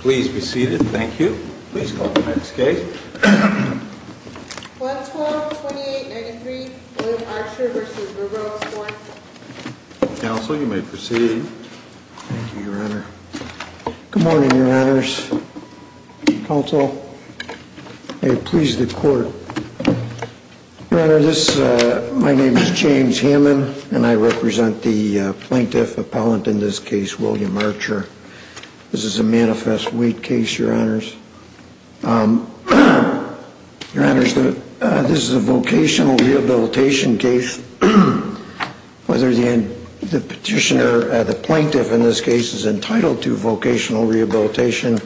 Please be seated. Thank you. Please call the next case. 112-2893 William Archer v. Burroughs Court. Counsel, you may proceed. Thank you, Your Honor. Good morning, Your Honors. Counsel, may it please the Court. Your Honor, my name is James Hammond, and I represent the plaintiff appellant in this case, William Archer. This is a manifest weight case, Your Honors. Your Honors, this is a vocational rehabilitation case. Whether the petitioner, the plaintiff in this case, is entitled to vocational rehabilitation,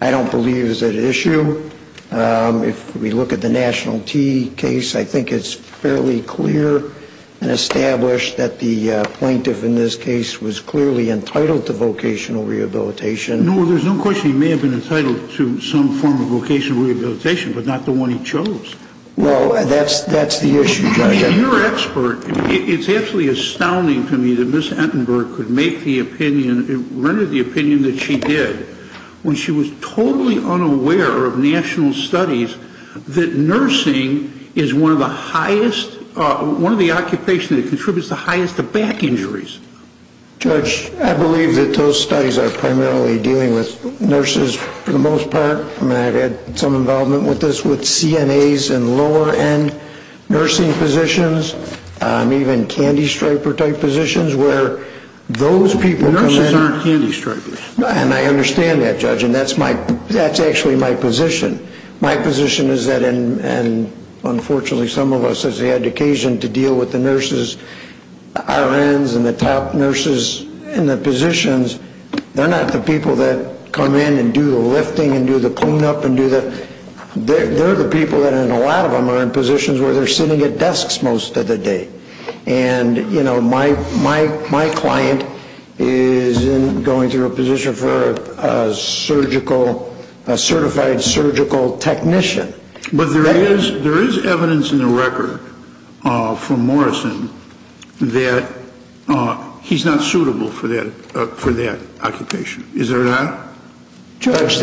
I don't believe is at issue. If we look at the National Tea case, I think it's fairly clear and established that the plaintiff in this case was clearly entitled to vocational rehabilitation. No, there's no question he may have been entitled to some form of vocational rehabilitation, but not the one he chose. Well, that's the issue, Judge. Your Expert, it's absolutely astounding to me that Ms. Entenberg could make the opinion, render the opinion that she did, when she was totally unaware of national studies that nursing is one of the highest, one of the occupations that contributes the highest to back injuries. Judge, I believe that those studies are primarily dealing with nurses for the most part. I mean, I've had some involvement with this with CNAs and lower end nursing positions, even candy striper type positions, where those people come in. Nurses aren't candy stripers. And I understand that, Judge, and that's actually my position. My position is that, and unfortunately, some of us, as they had occasion to deal with the nurses, our ends and the top nurses in the positions, they're not the people that come in and do the lifting and do the clean up and do the – they're the people that, and a lot of them are in positions where they're sitting at desks most of the day. And, you know, my client is going through a position for a surgical, a certified surgical technician. But there is evidence in the record from Morrison that he's not suitable for that occupation, is there not? Judge,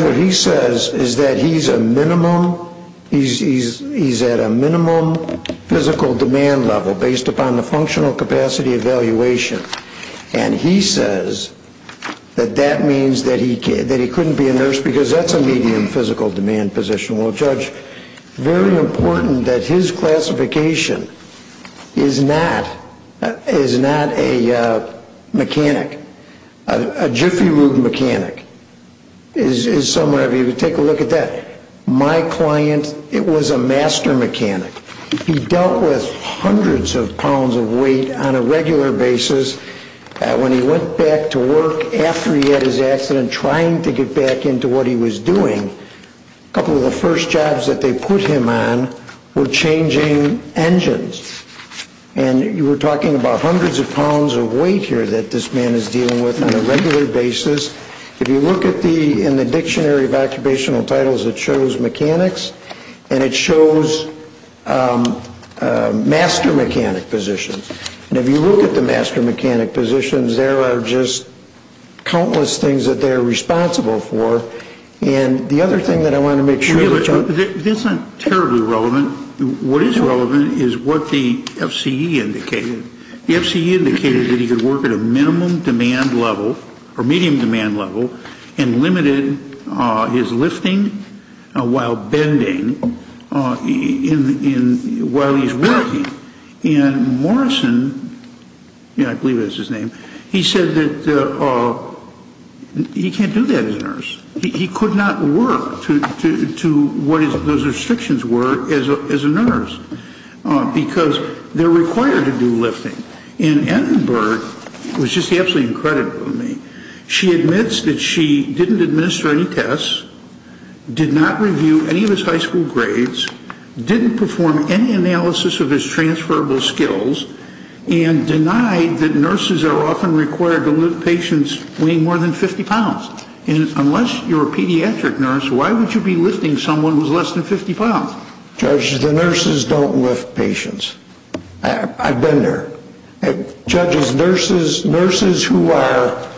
what he says is that he's a minimum – he's at a minimum physical demand level based upon the functional capacity evaluation. And he says that that means that he couldn't be a nurse because that's a medium physical demand position. Well, Judge, very important that his classification is not a mechanic. A jiffy-moog mechanic is somewhere. If you take a look at that, my client, it was a master mechanic. He dealt with hundreds of pounds of weight on a regular basis. When he went back to work after he had his accident, trying to get back into what he was doing, a couple of the first jobs that they put him on were changing engines. And you were talking about hundreds of pounds of weight here that this man is dealing with on a regular basis. If you look at the – in the dictionary of occupational titles, it shows mechanics, and it shows master mechanic positions. And if you look at the master mechanic positions, there are just countless things that they're responsible for. And the other thing that I want to make sure – That's not terribly relevant. What is relevant is what the FCE indicated. The FCE indicated that he could work at a minimum demand level or medium demand level and limited his lifting while bending in – while he's working. And Morrison – yeah, I believe that's his name – he said that he can't do that as a nurse. He could not work to what those restrictions were as a nurse because they're required to do lifting. And Annenberg was just absolutely incredible to me. She admits that she didn't administer any tests, did not review any of his high school grades, didn't perform any analysis of his transferable skills, and denied that nurses are often required to lift patients weighing more than 50 pounds. And unless you're a pediatric nurse, why would you be lifting someone who's less than 50 pounds? Judge, the nurses don't lift patients. I've been there. Judges, nurses who are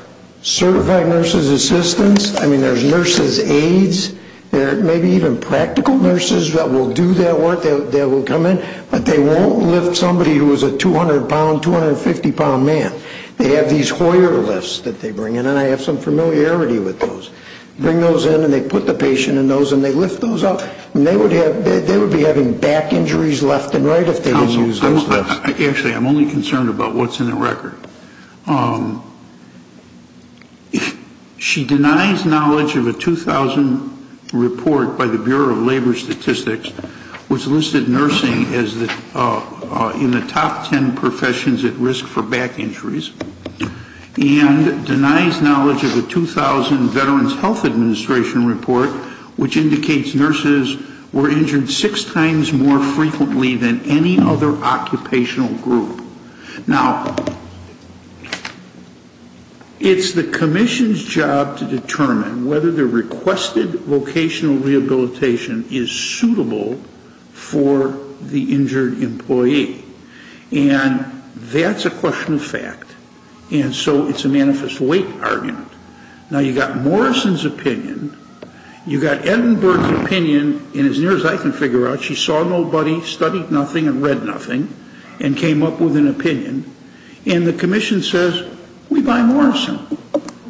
certified nurses assistants – I mean, there's nurses aides. There may be even practical nurses that will do that work, that will come in. But they won't lift somebody who is a 200-pound, 250-pound man. They have these Hoyer lifts that they bring in, and I have some familiarity with those. Bring those in, and they put the patient in those, and they lift those up. And they would have – they would be having back injuries left and right if they didn't use those lifts. Actually, I'm only concerned about what's in the record. She denies knowledge of a 2000 report by the Bureau of Labor Statistics, which listed nursing in the top ten professions at risk for back injuries, and denies knowledge of a 2000 Veterans Health Administration report, which indicates nurses were injured six times more frequently than any other occupational group. Now, it's the commission's job to determine whether the requested vocational rehabilitation is suitable for the injured employee. And that's a question of fact. And so it's a manifest weight argument. Now, you've got Morrison's opinion, you've got Edinburgh's opinion, and as near as I can figure out, she saw nobody, studied nothing, and read nothing, and came up with an opinion. And the commission says, we buy Morrison.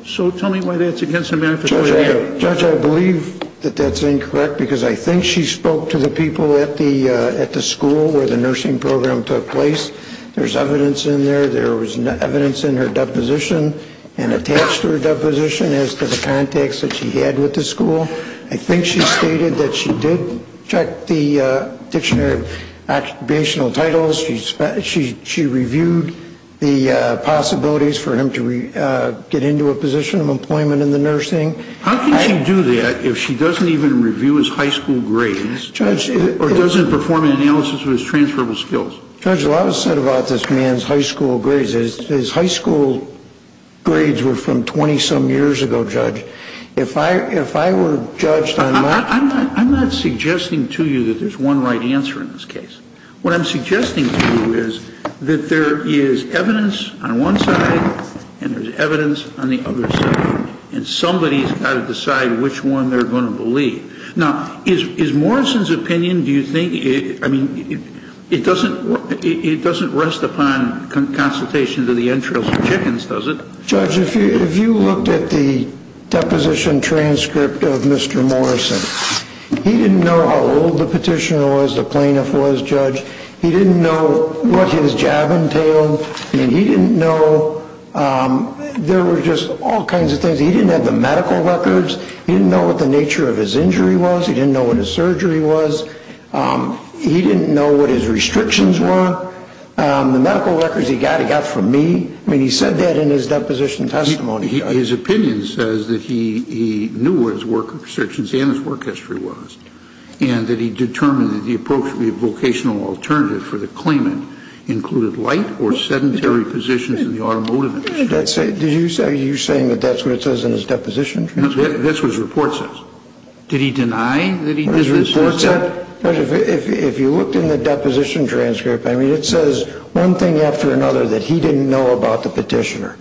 So tell me why that's against the manifest weight argument. Judge, I believe that that's incorrect, because I think she spoke to the people at the school where the nursing program took place. There's evidence in there. There was evidence in her deposition and attached to her deposition as to the contacts that she had with the school. I think she stated that she did check the dictionary of occupational titles. She reviewed the possibilities for him to get into a position of employment in the nursing. How can she do that if she doesn't even review his high school grades or doesn't perform an analysis of his transferable skills? Judge, a lot was said about this man's high school grades. His high school grades were from 20-some years ago, Judge. If I were judged on my – I'm not suggesting to you that there's one right answer in this case. What I'm suggesting to you is that there is evidence on one side and there's evidence on the other side, and somebody's got to decide which one they're going to believe. Now, is Morrison's opinion, do you think – I mean, it doesn't rest upon consultation to the entrails of chickens, does it? Judge, if you looked at the deposition transcript of Mr. Morrison, he didn't know how old the petitioner was, the plaintiff was, Judge. He didn't know what his jab entailed. He didn't know – there were just all kinds of things. He didn't have the medical records. He didn't know what the nature of his injury was. He didn't know what his surgery was. He didn't know what his restrictions were. The medical records he got, he got from me. I mean, he said that in his deposition testimony, Judge. His opinion says that he knew what his work restrictions and his work history was and that he determined that the approach to be a vocational alternative for the claimant included light or sedentary positions in the automotive industry. Are you saying that that's what it says in his deposition transcript? This is what his report says. Did he deny that he did this? If you looked in the deposition transcript, I mean, it says one thing after another that he didn't know about the petitioner.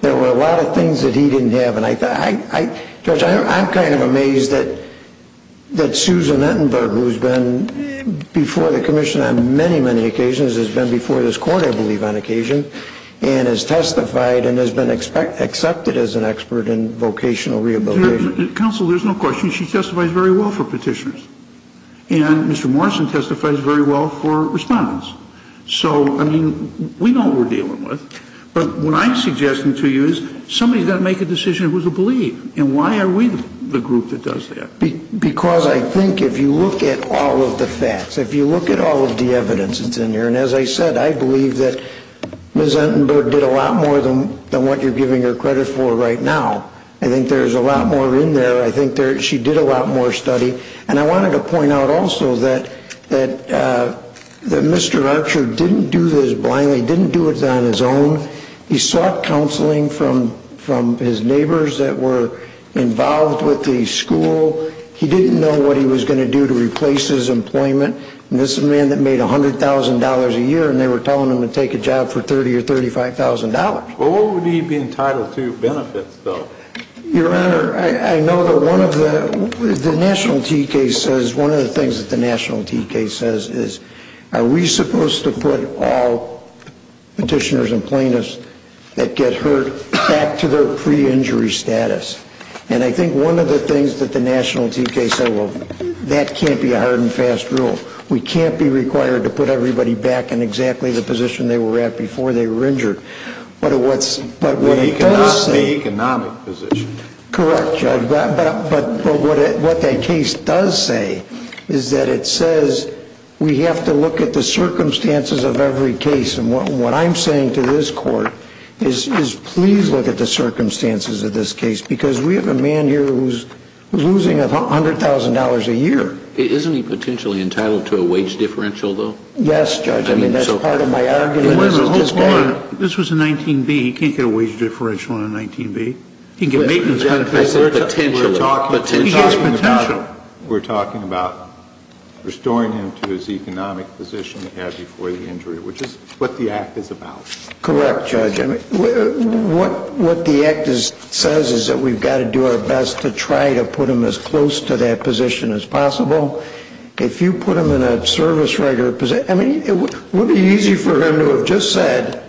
There were a lot of things that he didn't have, and I – Judge, I'm kind of amazed that Susan Entenberg, who's been before the Commission on many, many occasions, has been before this Court, I believe, on occasion, and has testified and has been accepted as an expert in vocational rehabilitation. Counsel, there's no question. She testifies very well for petitioners, and Mr. Morrison testifies very well for respondents. So, I mean, we know what we're dealing with, but what I'm suggesting to you is somebody's got to make a decision who to believe, and why are we the group that does that? Because I think if you look at all of the facts, if you look at all of the evidence that's in here, and as I said, I believe that Ms. Entenberg did a lot more than what you're giving her credit for right now. I think there's a lot more in there. I think she did a lot more study. And I wanted to point out also that Mr. Archer didn't do this blindly, didn't do it on his own. He sought counseling from his neighbors that were involved with the school. He didn't know what he was going to do to replace his employment. And this is a man that made $100,000 a year, and they were telling him to take a job for $30,000 or $35,000. Well, what would he be entitled to benefits, though? Your Honor, I know that one of the National TK says, one of the things that the National TK says is, are we supposed to put all petitioners and plaintiffs that get hurt back to their pre-injury status? And I think one of the things that the National TK said, well, that can't be a hard and fast rule. We can't be required to put everybody back in exactly the position they were at before they were injured. But what it does say – But not the economic position. Correct, Judge. But what that case does say is that it says we have to look at the circumstances of every case. And what I'm saying to this Court is please look at the circumstances of this case, because we have a man here who's losing $100,000 a year. Isn't he potentially entitled to a wage differential, though? Yes, Judge. I mean, that's part of my argument. Wait a minute. Hold on. This was a 19B. He can't get a wage differential on a 19B. He can get maintenance benefits. I said potentially. Potentially. We're talking about restoring him to his economic position he had before the injury, which is what the Act is about. Correct, Judge. What the Act says is that we've got to do our best to try to put him as close to that position as possible. If you put him in a service writer position – I mean, it would be easy for him to have just said,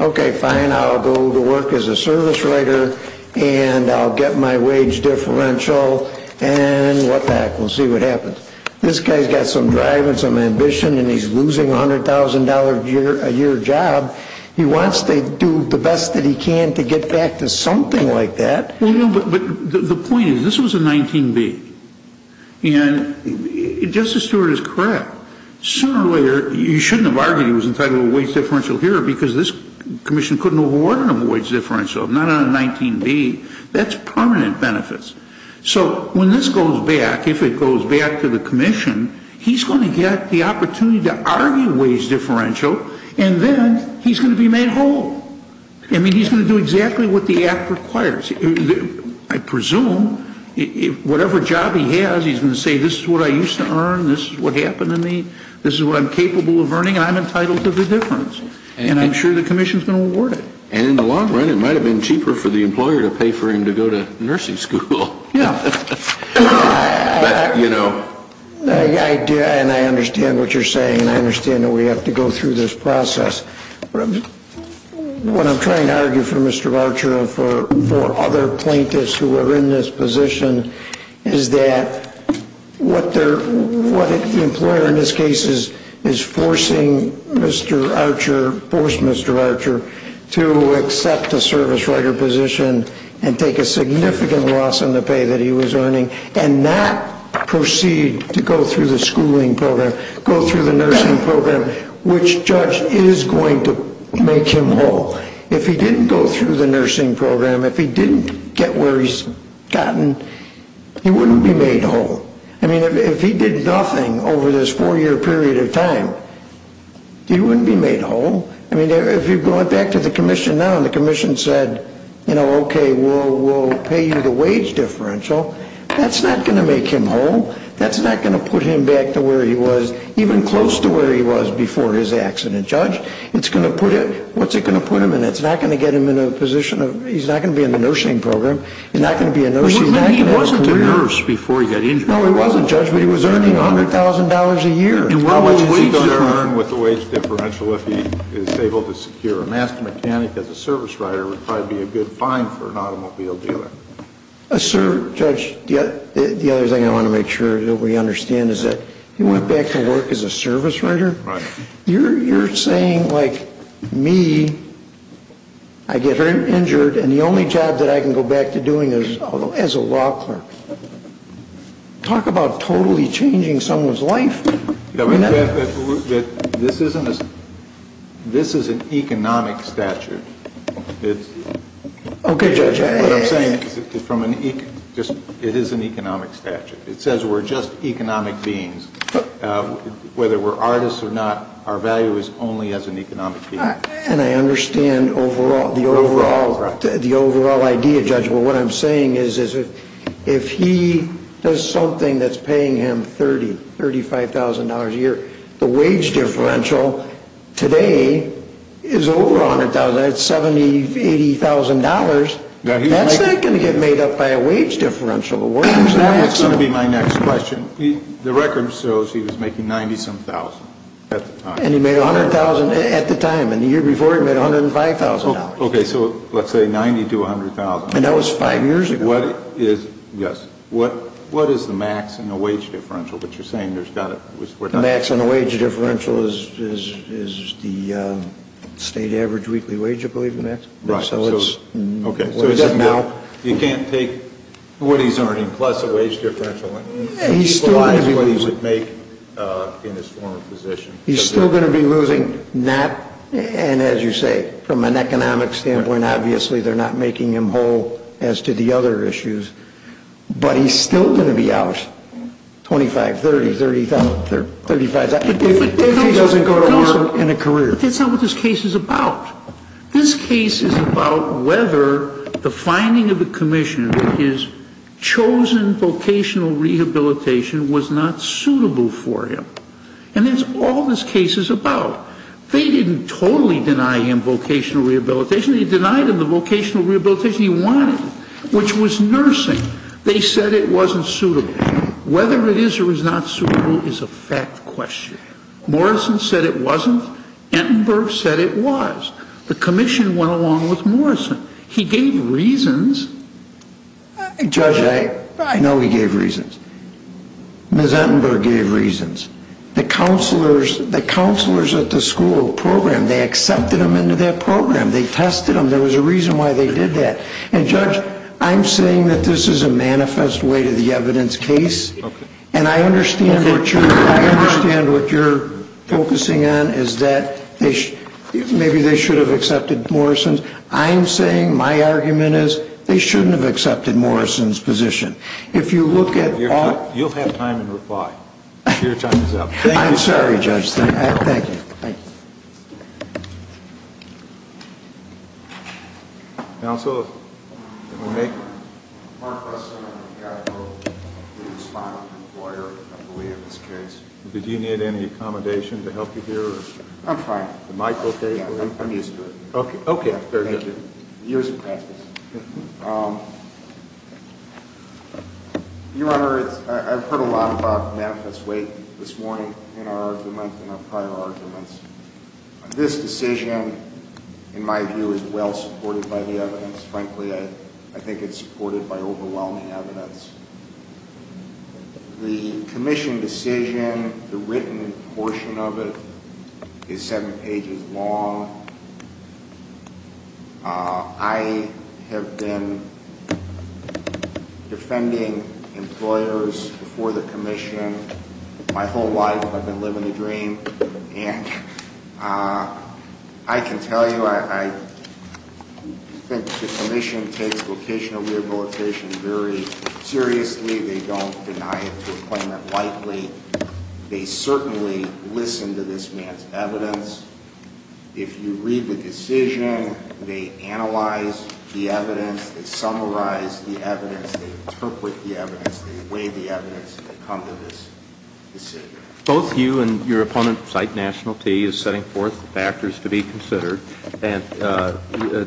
okay, fine, I'll go to work as a service writer, and I'll get my wage differential, and what the heck. We'll see what happens. This guy's got some drive and some ambition, and he's losing $100,000 a year of job. He wants to do the best that he can to get back to something like that. Well, no, but the point is this was a 19B. And Justice Stewart is correct. Sooner or later, you shouldn't have argued he was entitled to a wage differential here because this commission couldn't award him a wage differential, not on a 19B. That's permanent benefits. So when this goes back, if it goes back to the commission, he's going to get the opportunity to argue wage differential, and then he's going to be made whole. I mean, he's going to do exactly what the Act requires. I presume whatever job he has, he's going to say this is what I used to earn, this is what happened to me, this is what I'm capable of earning, and I'm entitled to the difference. And I'm sure the commission's going to award it. And in the long run, it might have been cheaper for the employer to pay for him to go to nursing school. Yeah. But, you know. And I understand what you're saying, and I understand that we have to go through this process. What I'm trying to argue for Mr. Archer and for other plaintiffs who are in this position is that what the employer in this case is forcing Mr. Archer, forced Mr. Archer, to accept a service writer position and take a significant loss in the pay that he was earning and not proceed to go through the schooling program, go through the nursing program, which, Judge, is going to make him whole. If he didn't go through the nursing program, if he didn't get where he's gotten, he wouldn't be made whole. I mean, if he did nothing over this four-year period of time, he wouldn't be made whole. I mean, if you're going back to the commission now and the commission said, you know, okay, we'll pay you the wage differential, that's not going to make him whole. That's not going to put him back to where he was, even close to where he was before his accident, Judge. What's it going to put him in? It's not going to get him in a position of he's not going to be in the nursing program. He's not going to be a nurse. He wasn't a nurse before he got injured. No, he wasn't, Judge, but he was earning $100,000 a year. How much is he going to earn with the wage differential if he is able to secure a master mechanic as a service writer would probably be a good fine for an automobile dealer. Sir, Judge, the other thing I want to make sure that we understand is that he went back to work as a service writer. Right. You're saying, like, me, I get injured and the only job that I can go back to doing is as a law clerk. Talk about totally changing someone's life. This is an economic statute. Okay, Judge. What I'm saying is it is an economic statute. It says we're just economic beings. Whether we're artists or not, our value is only as an economic being. And I understand the overall idea, Judge. But what I'm saying is if he does something that's paying him $30,000, $35,000 a year, the wage differential today is over $100,000. That's $70,000, $80,000. That's not going to get made up by a wage differential. That's going to be my next question. The record shows he was making $90-some-thousand at the time. And he made $100,000 at the time. And the year before, he made $105,000. Okay, so let's say $90,000 to $100,000. And that was five years ago. Yes. What is the max and the wage differential? But you're saying there's got to be. The max and the wage differential is the state average weekly wage, I believe, is the max. Right. Okay. You can't take what he's earning plus a wage differential. Equalize what he would make in his former position. He's still going to be losing, and as you say, from an economic standpoint, obviously they're not making him whole as to the other issues. But he's still going to be out $25,000, $30,000, $35,000 if he doesn't go to work in a career. That's not what this case is about. This case is about whether the finding of the commission that his chosen vocational rehabilitation was not suitable for him. And that's all this case is about. They didn't totally deny him vocational rehabilitation. They denied him the vocational rehabilitation he wanted, which was nursing. They said it wasn't suitable. Whether it is or is not suitable is a fact question. Morrison said it wasn't. Entenberg said it was. The commission went along with Morrison. He gave reasons. Judge, I know he gave reasons. Ms. Entenberg gave reasons. The counselors at the school program, they accepted him into their program. They tested him. There was a reason why they did that. And, Judge, I'm saying that this is a manifest way to the evidence case. Okay. And I understand what you're focusing on is that maybe they should have accepted Morrison's. I'm saying my argument is they shouldn't have accepted Morrison's position. If you look at all... You'll have time to reply. Your time is up. I'm sorry, Judge. Thank you. Thank you. Counsel, can we make... Mark Russell, I'm the guy who wrote the respondent lawyer, I believe, in this case. Did you need any accommodation to help you here? I'm fine. The mic okay? Yeah, I'm used to it. Okay. Thank you. Years of practice. Your Honor, I've heard a lot about manifest way this morning in our argument, in our prior arguments. This decision, in my view, is well supported by the evidence. Frankly, I think it's supported by overwhelming evidence. The commission decision, the written portion of it, is seven pages long. I have been defending employers before the commission my whole life. I've been living the dream. And I can tell you, I think the commission takes vocational rehabilitation very seriously. They don't deny it to a claimant lightly. They certainly listen to this man's evidence. If you read the decision, they analyze the evidence. They summarize the evidence. They interpret the evidence. They weigh the evidence. They come to this decision. Both you and your opponent cite National T as setting forth factors to be considered. And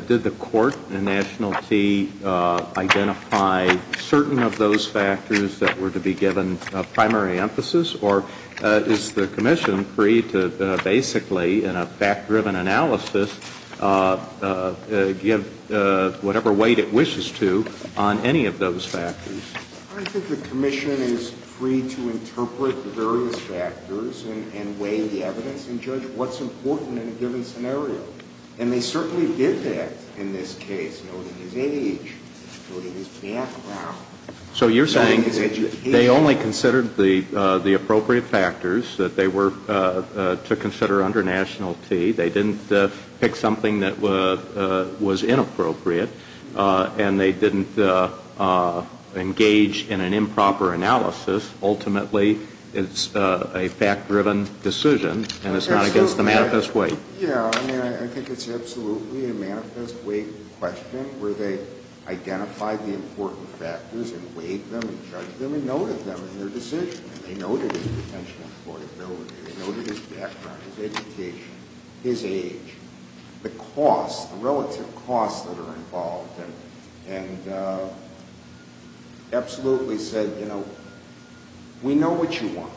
did the court in National T identify certain of those factors that were to be given primary emphasis? Or is the commission free to basically, in a fact-driven analysis, give whatever weight it wishes to on any of those factors? I think the commission is free to interpret the various factors and weigh the evidence and judge what's important in a given scenario. And they certainly did that in this case, noting his age, noting his background, noting his education. They only considered the appropriate factors that they were to consider under National T. They didn't pick something that was inappropriate. And they didn't engage in an improper analysis. Ultimately, it's a fact-driven decision, and it's not against the manifest weight. Yeah, I mean, I think it's absolutely a manifest weight question where they identified the important factors and weighed them and judged them and noted them in their decision. And they noted his potential employability. They noted his background, his education, his age, the costs, the relative costs that are involved, and absolutely said, you know, we know what you want.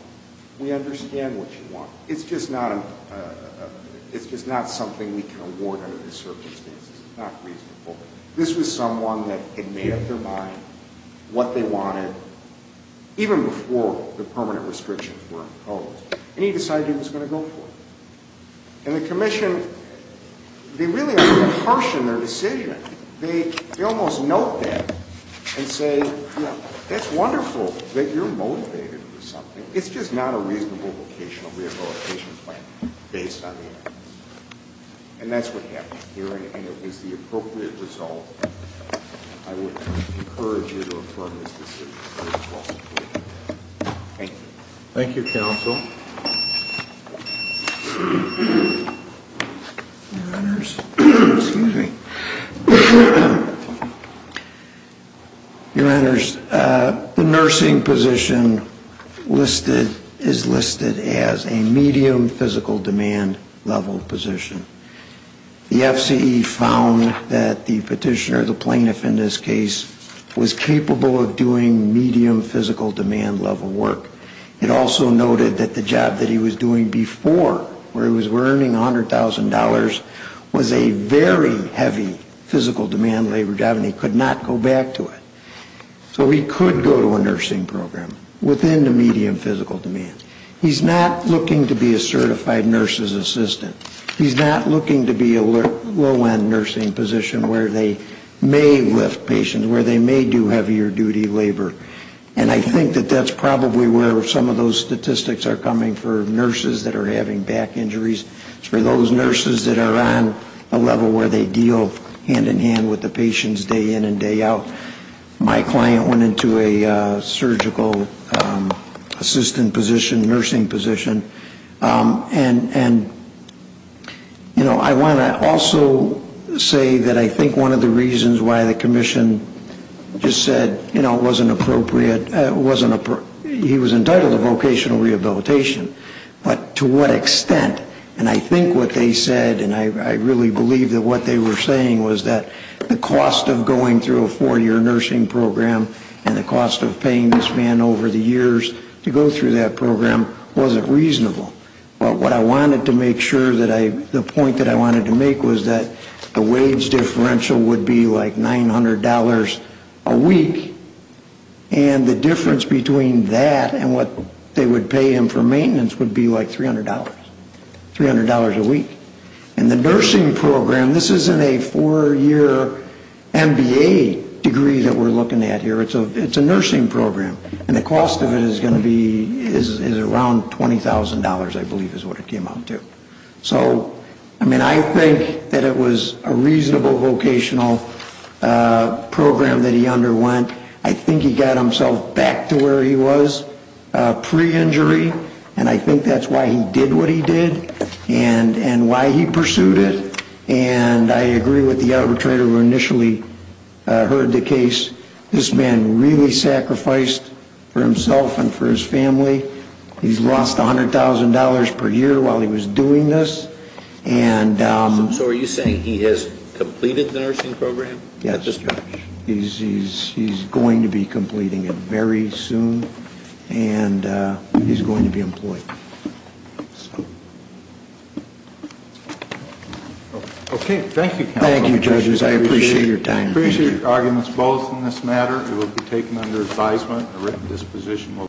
We understand what you want. It's just not something we can award under this circumstance. It's not reasonable. This was someone that had made up their mind what they wanted even before the permanent restrictions were imposed, and he decided he was going to go for it. And the commission, they really harshen their decision. They almost note that and say, you know, that's wonderful that you're motivated for something. It's just not a reasonable vocational rehabilitation plan based on the evidence. And that's what happened here, and it was the appropriate result. I would encourage you to affirm this decision. Thank you. Thank you, counsel. Your Honors, the nursing position is listed as a medium physical demand level position. The FCE found that the petitioner, the plaintiff in this case, was capable of doing medium physical demand level work. It also noted that the job that he was doing before, where he was earning $100,000, was a very heavy physical demand labor job, and he could not go back to it. So he could go to a nursing program within the medium physical demand. He's not looking to be a certified nurse's assistant. He's not looking to be a low-end nursing position where they may lift patients, where they may do heavier duty labor. And I think that that's probably where some of those statistics are coming for nurses that are having back injuries, for those nurses that are on a level where they deal hand-in-hand with the patients day in and day out. My client went into a surgical assistant position, nursing position. And, you know, I want to also say that I think one of the reasons why the commission just said, you know, it wasn't appropriate, he was entitled to vocational rehabilitation, but to what extent? And I think what they said, and I really believe that what they were saying, was that the cost of going through a four-year nursing program and the cost of paying this man over the years to go through that program wasn't reasonable. But what I wanted to make sure that I, the point that I wanted to make was that the wage differential would be like $900 a week, and the difference between that and what they would pay him for maintenance would be like $300, $300 a week. And the nursing program, this isn't a four-year MBA degree that we're looking at here, it's a nursing program. And the cost of it is going to be, is around $20,000, I believe is what it came out to. So, I mean, I think that it was a reasonable vocational program that he underwent. I think he got himself back to where he was pre-injury, and I think that's why he did what he did, and why he pursued it. And I agree with the arbitrator who initially heard the case. This man really sacrificed for himself and for his family. He's lost $100,000 per year while he was doing this. So are you saying he has completed the nursing program? Yes, he's going to be completing it very soon, and he's going to be employed. Okay, thank you, counsel. Thank you, judges. I appreciate your time. We appreciate your arguments both in this matter. It will be taken under advisement. A written disposition will be issued.